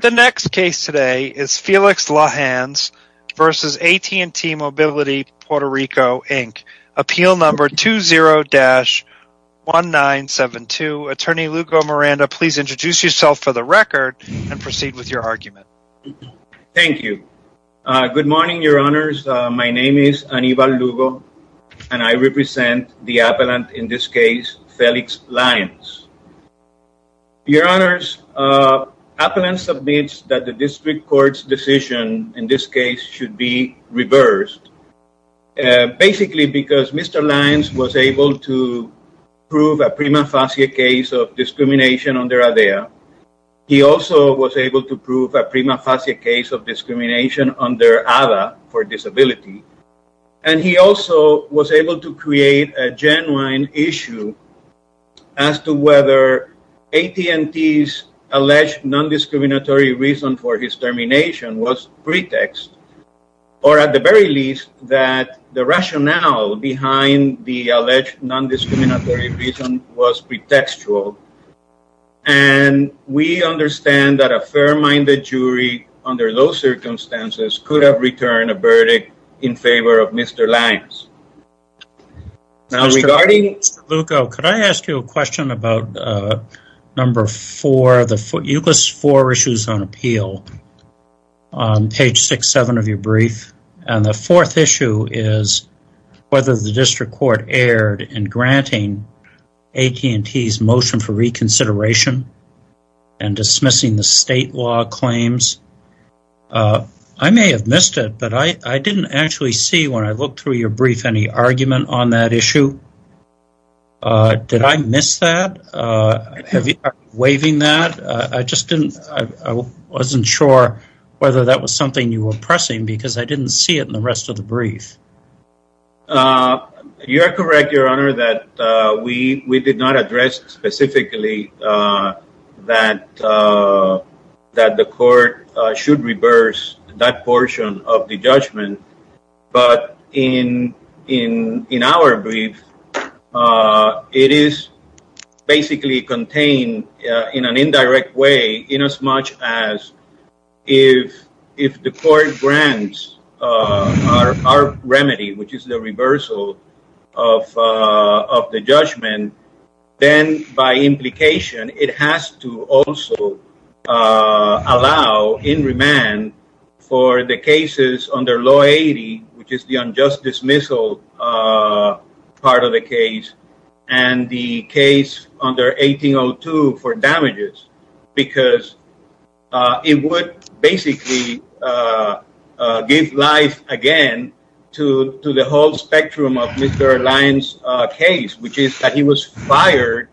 The next case today is Felix Lajans v. AT&T Mobility Puerto Rico, Inc. Appeal number 20-1972. Attorney Lugo Miranda, please introduce yourself for the record and proceed with your argument. Thank you. Good morning, your honors. My name is Anibal Lugo, and I represent the appellant in this case, Felix Lyons. Your honors, appellant submits that the district court's decision in this case should be reversed, basically because Mr. Lyons was able to prove a prima facie case of discrimination under ADA. He also was able to prove a prima facie case of discrimination under ADA for disability. And he also was able to create a genuine issue as to whether AT&T's alleged non-discriminatory reason for his termination was pretext, or at the very least, that the rationale behind the alleged non-discriminatory reason was pretextual. And we understand that a fair-minded jury under those circumstances could have returned a verdict in favor of Mr. Lyons. Now, regarding... Mr. Lugo, could I ask you a question about number four? You list four issues on appeal on page six, seven of your brief. And the fourth issue is whether the district court erred in I may have missed it, but I didn't actually see, when I looked through your brief, any argument on that issue. Did I miss that? Are you waiving that? I just didn't... I wasn't sure whether that was something you were pressing, because I didn't see it in the rest of the brief. You're correct, your honor, that we did not address specifically that the court should reverse that portion of the judgment. But in our brief, it is basically contained in an indirect way, inasmuch as if the court grants our remedy, which is the reversal of the judgment, then by implication, it has to also allow in remand for the cases under law 80, which is the unjust dismissal part of the case, and the case under 1802 for damages, because it would basically give life again to the whole spectrum of Mr. Lyons' case, which is that he was fired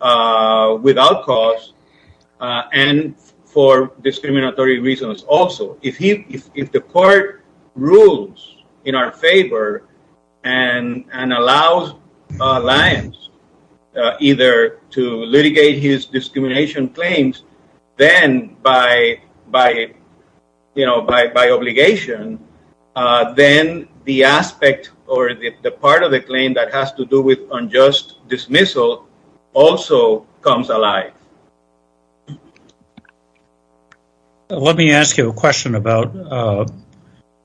without cause and for discriminatory reasons. Also, if the court rules in our favor and allows Lyons either to litigate his discrimination claims, then by obligation, then the aspect or the part of the claim that has to do with unjust dismissal also comes alive. Let me ask you a question about,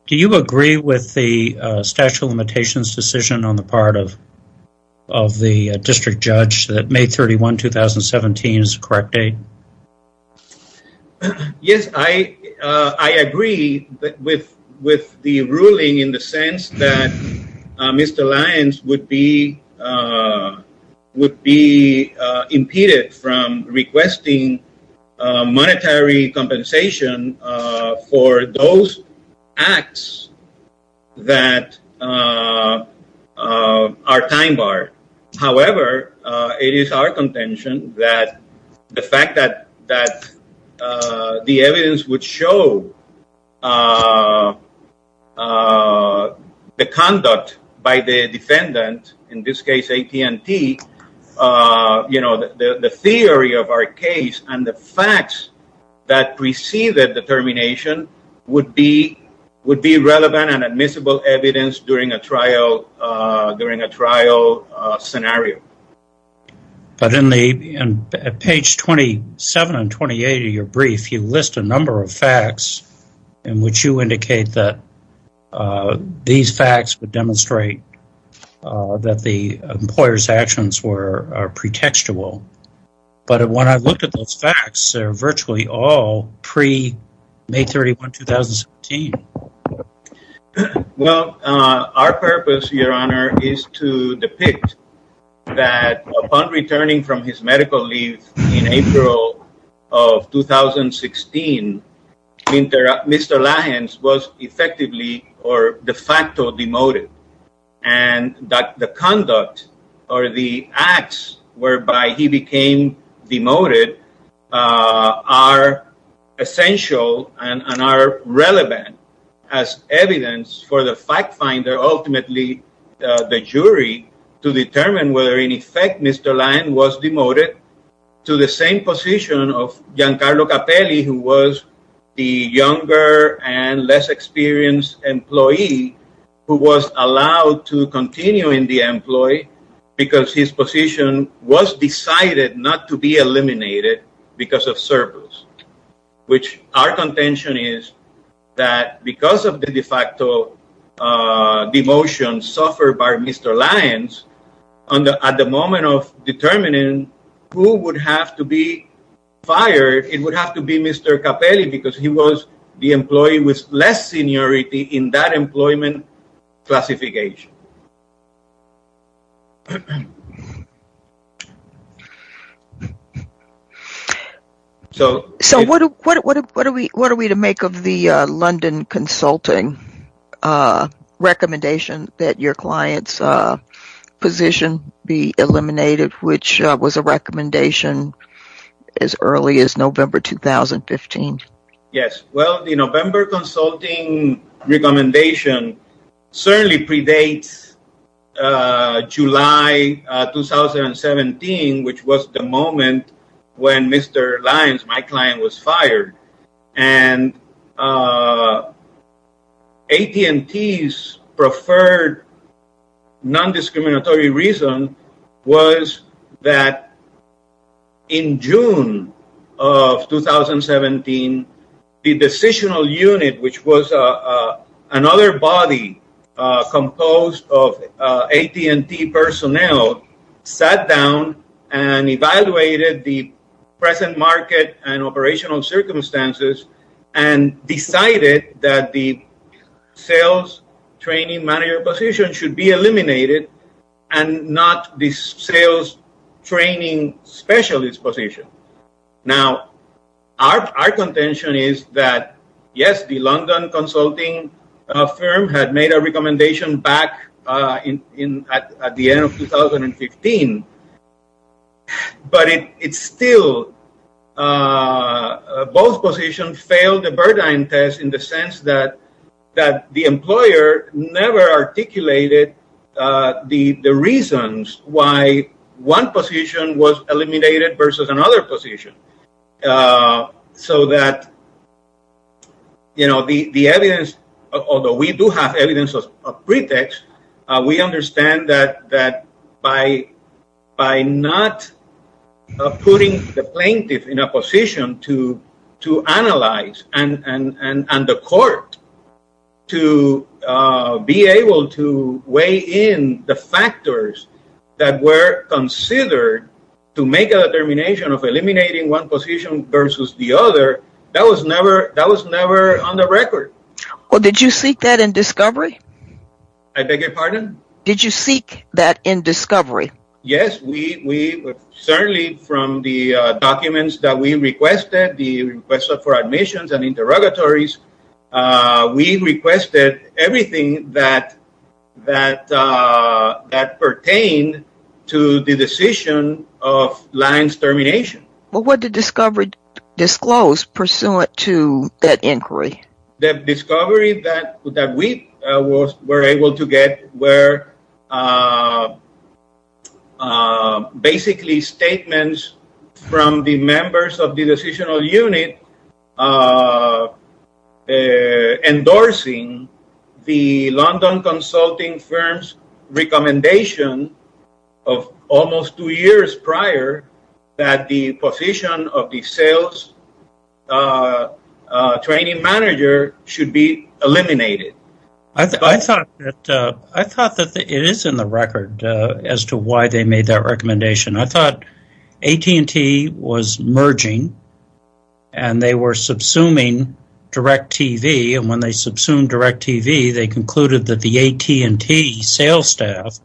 do you agree with the statute of limitations decision on the part of the district judge that May 31, 2017 is the correct date? Yes, I agree with the ruling in the sense that Mr. Lyons would be impeded from requesting monetary compensation for those acts that are time barred. However, it is our contention that the fact that the evidence would show the conduct by the defendant, in this case AT&T, the theory of our case and the facts that preceded the termination would be relevant and admissible evidence during a trial scenario. But in page 27 and 28 of your brief, you list a number of facts in which you indicate that these facts would demonstrate that the employer's actions were pretextual. But when I looked at those facts, they're virtually all pre-May 31, 2017. Well, our purpose, your honor, is to depict that upon returning from his medical leave in April of 2016, Mr. Lyons was effectively or de facto demoted and that the conduct or the acts whereby he became demoted are essential and are relevant as evidence for the fact finder, ultimately the jury, to determine whether in effect Mr. Lyons was demoted to the same position of Giancarlo Capelli who was the younger and less experienced employee who was allowed to continue in the employee because his position was decided not to be eliminated because of surplus, which our contention is that because of the de facto demotion suffered by Mr. Lyons at the moment of determining who would have to be fired, it would have to be Mr. Capelli because he was the employee with less seniority in that employment classification. So what are we to make of the London Consulting recommendation that your client's position be eliminated, which was a recommendation as early as November 2015? Yes, well, the November consulting recommendation certainly predates July 2017, which was the moment when Mr. Lyons, my client, was fired and AT&T's preferred non-discriminatory reason was that in June of 2017, the decisional unit, which was another body composed of AT&T personnel, sat down and evaluated the present market and operational circumstances and decided that the sales training specialist position. Now, our contention is that yes, the London Consulting firm had made a recommendation back at the end of 2015, but it still, both positions failed the Burdine test in the sense that the employer never articulated the reasons why one position was eliminated versus another position. So that the evidence, although we do have evidence of pretext, we understand that by not putting the plaintiff in a position to analyze and the court to be able to weigh in the factors that were considered to make a determination of eliminating one position versus the other, that was never on the record. Well, did you seek that in discovery? I beg your pardon? Did you seek that in discovery? Yes, certainly from the documents that we requested, the request for admissions and interrogatories, we requested everything that pertained to the decision of Lyons termination. But what did discovery disclose pursuant to that inquiry? The discovery that we were able to get were basically statements from the members of the decisional unit endorsing the London Consulting firm's recommendation of almost two years prior that the position of the sales training manager should be eliminated. I thought that it is in the record as to why they made that recommendation. I thought AT&T was merging and they were subsuming direct TV and when they subsumed direct TV, they concluded that the AT&T sales staff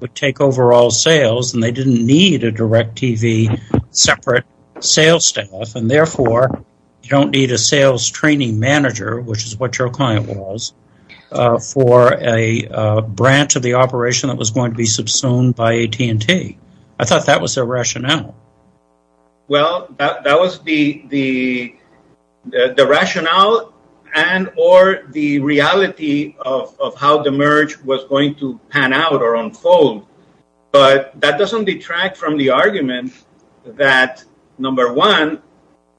would take over all sales and they didn't need a direct TV separate sales staff and therefore you don't need a sales training manager, which is what your client was, for a branch of the operation that was going to be subsumed by AT&T. I thought that was the rationale. That was the rationale and or the reality of how the merge was going to pan out or unfold. But that doesn't detract from the argument that, number one,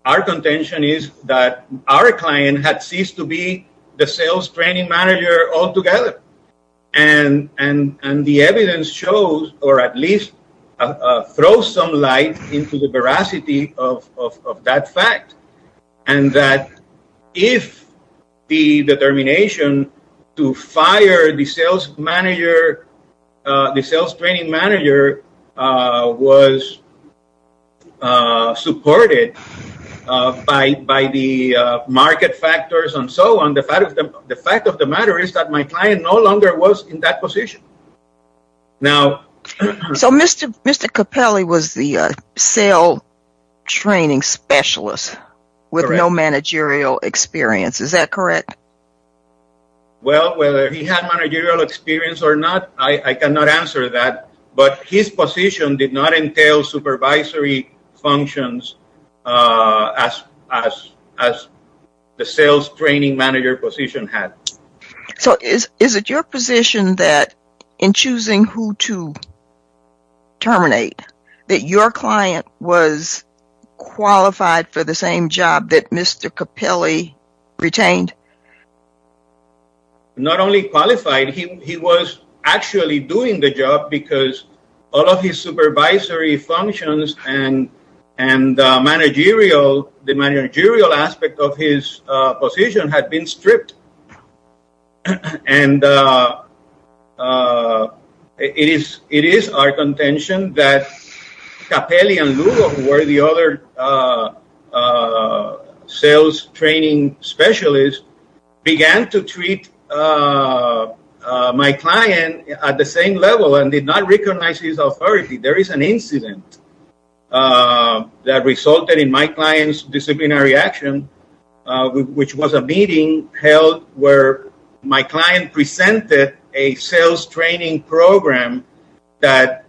our contention is that our client had ceased to be the sales training manager altogether. And the evidence shows, or at least throws some light into the veracity of that fact. And that if the determination to fire the sales manager, the sales training manager, was supported by the market factors and so on, the fact of the matter is that my client no longer was in that position. So Mr. Capelli was the sales training specialist with no managerial experience, is that correct? Well, whether he had managerial experience or not, I cannot answer that. But his position did not entail supervisory functions as the sales training manager position had. So is it your position that in choosing who to terminate, that your client was qualified for the same job that Mr. Capelli retained? Not only qualified, he was actually doing the job because all of his supervisory functions and managerial, the managerial aspect of his position had been stripped. And it is our contention that Capelli and Lugo, who were the other sales training specialists, began to treat my client at the same level and did not recognize his authority. There is an incident that resulted in my client's disciplinary action, which was a meeting held where my client presented a sales training program that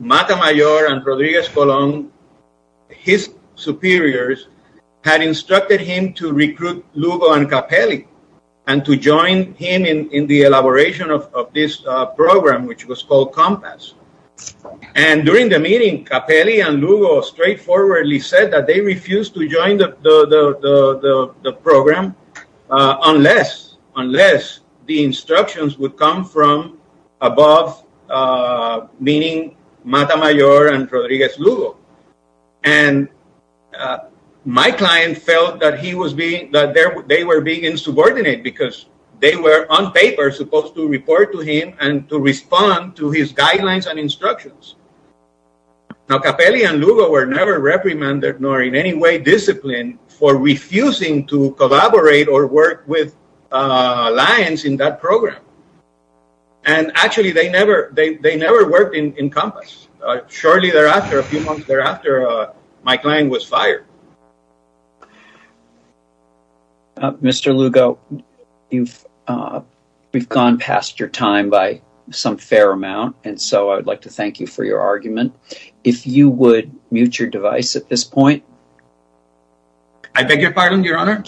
Matamayor and Rodriguez Colon, his superiors, had instructed him to recruit Lugo and Capelli and to join him in the elaboration of this program, which was called Compass. And during the meeting, Capelli and Lugo straightforwardly said that they refused to join the program unless the instructions would come from above, meaning Matamayor and Rodriguez Lugo. And my client felt that they were being insubordinate because they were on paper supposed to report to him and to respond to his guidelines and instructions. Now, Capelli and Lugo were never reprimanded nor in any way disciplined for refusing to collaborate or work with alliance in that program. And actually, they never worked in Compass. Shortly thereafter, a few months thereafter, my client was fired. Mr. Lugo, we've gone past your time by some fair amount, and so I would like to thank you for your argument. If you would mute your device at this point. I beg your pardon, Your Honor?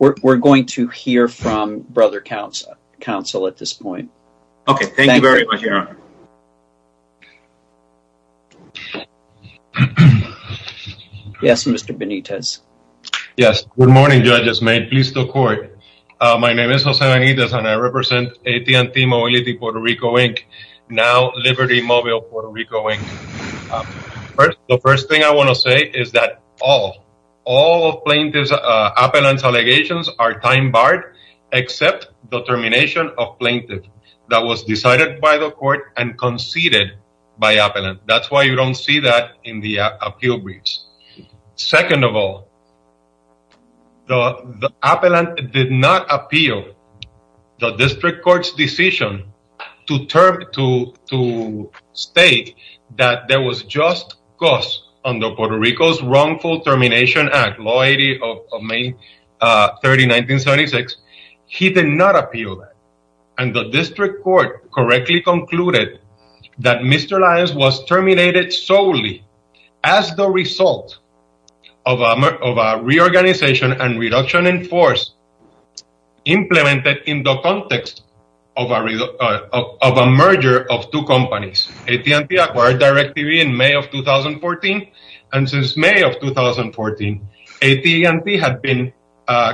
We're going to hear from brother counsel at this point. Okay, thank you very much, Your Honor. Yes, Mr. Benitez. Yes, good morning, judges. May it please the court. My name is Jose Benitez, and I represent AT&T Mobility Puerto Rico, Inc., now Liberty Mobile Puerto Rico, Inc. The first thing I want to say is that all plaintiffs' appellant allegations are time barred except the termination of plaintiff that was decided by the court and conceded by appellant. That's why you don't see that in the appeal briefs. Second of all, the appellant did not appeal the district court's decision to state that there was just cost on the Puerto Rico's wrongful termination act, law 80 of May 30, 1976. He did not appeal that, and the district court correctly concluded that Mr. Lyons was terminated solely as the result of a reorganization and reduction in force implemented in the context of a merger of two companies. AT&T acquired DirecTV in May of 2014, and since May of 2014, AT&T had been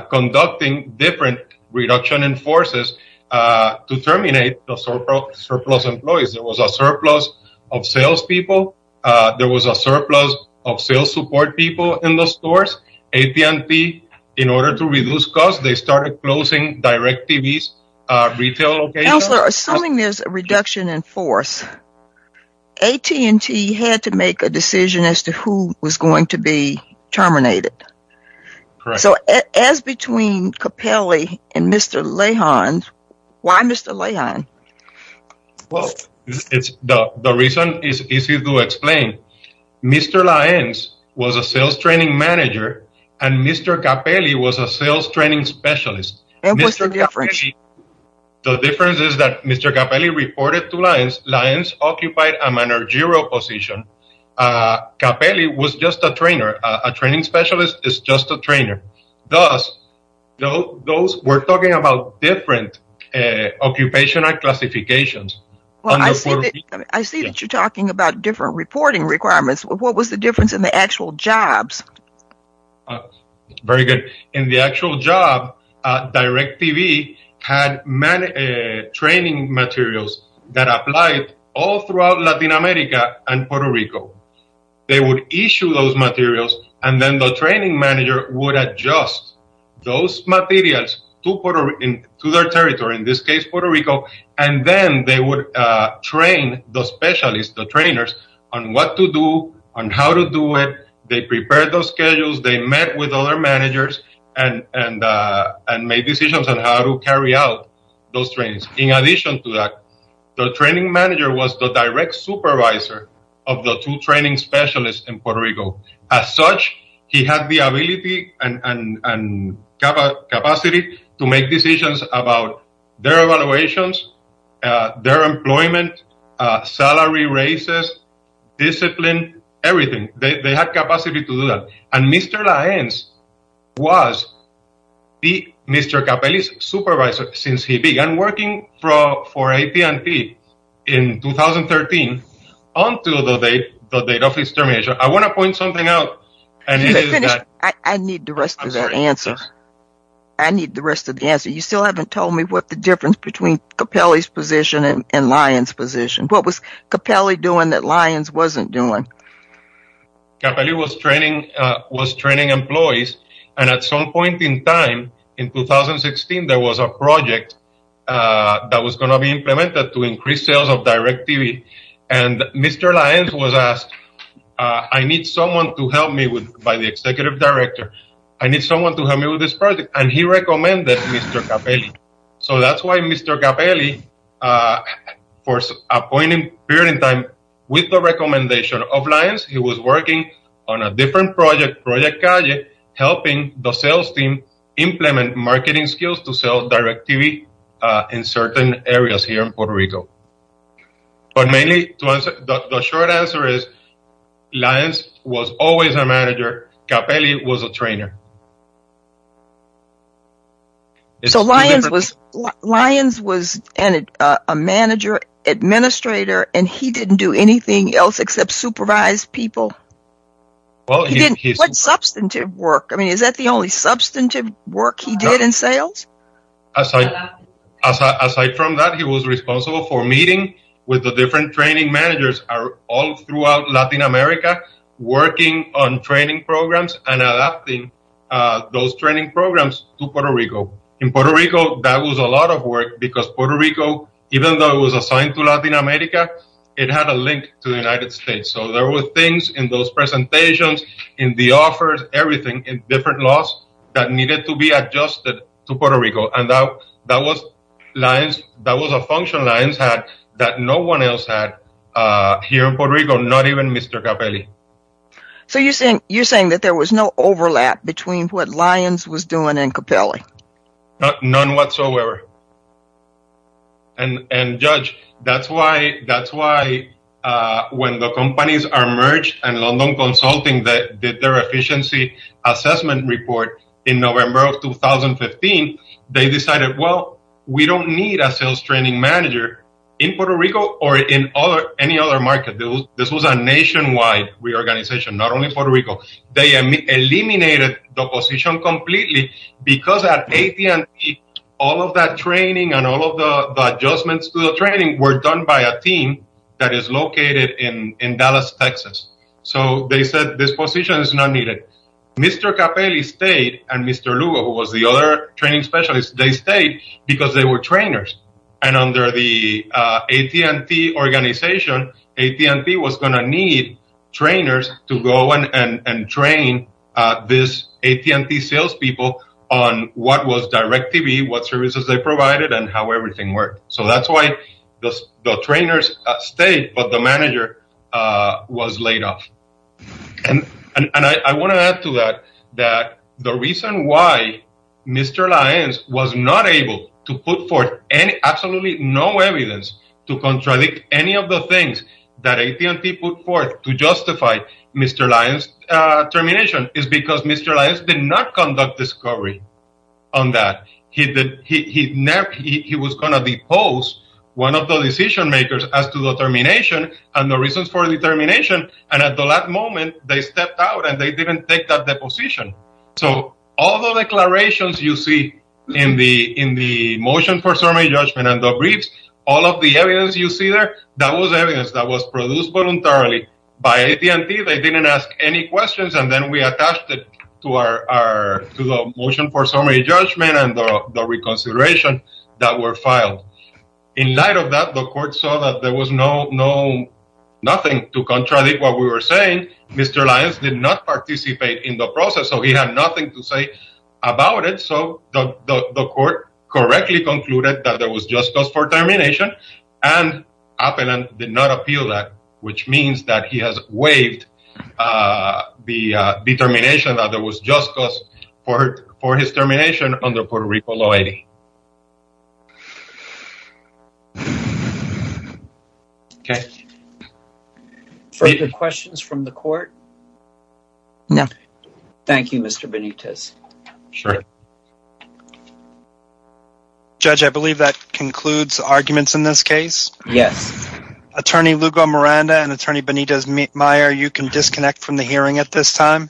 conducting different reduction in forces to terminate the surplus employees. There was a surplus of sales people. There was a surplus of sales support people in the stores. AT&T, in order to reduce costs, they started closing DirecTV's retail location. Counselor, assuming there's a reduction in force, AT&T had to make a decision as to who was going to be terminated. Correct. So as between Capelli and Mr. Leijon, why Mr. Leijon? Well, the reason is easy to explain. Mr. Lyons was a sales training manager, and Mr. Capelli was a sales training specialist. And what's the difference? The difference is that Mr. Capelli reported to Lyons, Lyons occupied a managerial position. Capelli was just a trainer. A training specialist is just a trainer. Thus, those were talking about different occupational classifications. I see that you're talking about different reporting requirements. What was the difference in the actual jobs? Very good. In the actual job, DirecTV had many training materials that applied all Latin America and Puerto Rico. They would issue those materials, and then the training manager would adjust those materials to their territory, in this case, Puerto Rico, and then they would train the specialists, the trainers, on what to do, on how to do it. They prepared those schedules. They met with other managers and made decisions on how to carry out those trainings. In addition to that, the training manager was the direct supervisor of the two training specialists in Puerto Rico. As such, he had the ability and capacity to make decisions about their evaluations, their employment, salary raises, discipline, everything. They had capacity to do that. Mr. Laenz was Mr. Capelli's supervisor since he began working for AT&T in 2013, until the date of his termination. I want to point something out. I need the rest of that answer. I need the rest of the answer. You still haven't told me what the difference is between Capelli's position and Laenz's position. What was Capelli doing that was training employees, and at some point in time, in 2016, there was a project that was going to be implemented to increase sales of DirecTV, and Mr. Laenz was asked, I need someone to help me by the executive director. I need someone to help me with this project, and he recommended Mr. Capelli. So that's why Mr. Capelli, for a period of time, with the recommendation of Laenz, he was working on a different project, Project Calle, helping the sales team implement marketing skills to sell DirecTV in certain areas here in Puerto Rico. But mainly, the short answer is, Laenz was always a manager. Capelli was a trainer. So, Laenz was a manager, administrator, and he didn't do anything else except supervise people? What substantive work? I mean, is that the only substantive work he did in sales? Aside from that, he was responsible for meeting with the different training managers all throughout Latin America, working on training programs, and adapting those training programs to Puerto Rico. In Puerto Rico, that was a lot of work, because Puerto Rico, even though it was assigned to Latin America, it had a link to the United States. So there were things in those presentations, in the offers, everything, in different laws that needed to be adjusted to here in Puerto Rico, not even Mr. Capelli. So you're saying that there was no overlap between what Laenz was doing and Capelli? None whatsoever. And Judge, that's why when the companies are merged and London Consulting did their efficiency assessment report in November of 2015, they decided, well, we don't need a sales training manager in Puerto Rico or any other market. This was a nationwide reorganization, not only in Puerto Rico. They eliminated the position completely, because at AT&T, all of that training and all of the adjustments to the training were done by a team that is located in Dallas, Texas. So they said, this position is not needed. Mr. Capelli stayed, and Mr. Lugo, who was the other training specialist, they stayed because they were trainers. And under the AT&T organization, AT&T was going to need trainers to go and train this AT&T salespeople on what was direct TV, what services they provided, and how everything worked. So that's why the trainers stayed, but the manager was laid off. And I want to add to that, that the reason why Mr. Laenz was not able to put forth absolutely no evidence to contradict any of the things that AT&T put forth to justify Mr. Laenz's termination is because Mr. Laenz did not conduct discovery on that. He was going to depose one of the decision makers as to the termination and the reasons for the termination, and at the last moment, they stepped out and they didn't take that deposition. So all the declarations you see in the motion for summary judgment and the briefs, all of the evidence you see there, that was evidence that was produced voluntarily by AT&T. They didn't ask any questions, and then we attached it to the motion for summary judgment and the reconsideration that were filed. In light of that, the court saw that there was no nothing to contradict what we were saying. Mr. Laenz did not participate in the process, so he had nothing to say about it. So the court correctly concluded that there was just cause for termination, and Apellant did not appeal that, which means that he has waived the determination that there was just cause for his termination under Puerto Rico law 80. Okay. Further questions from the court? No. Thank you, Mr. Benitez. Sure. Judge, I believe that concludes arguments in this case. Yes. Attorney Lugo Miranda and Attorney Benitez Meyer, you can disconnect from the hearing at this time.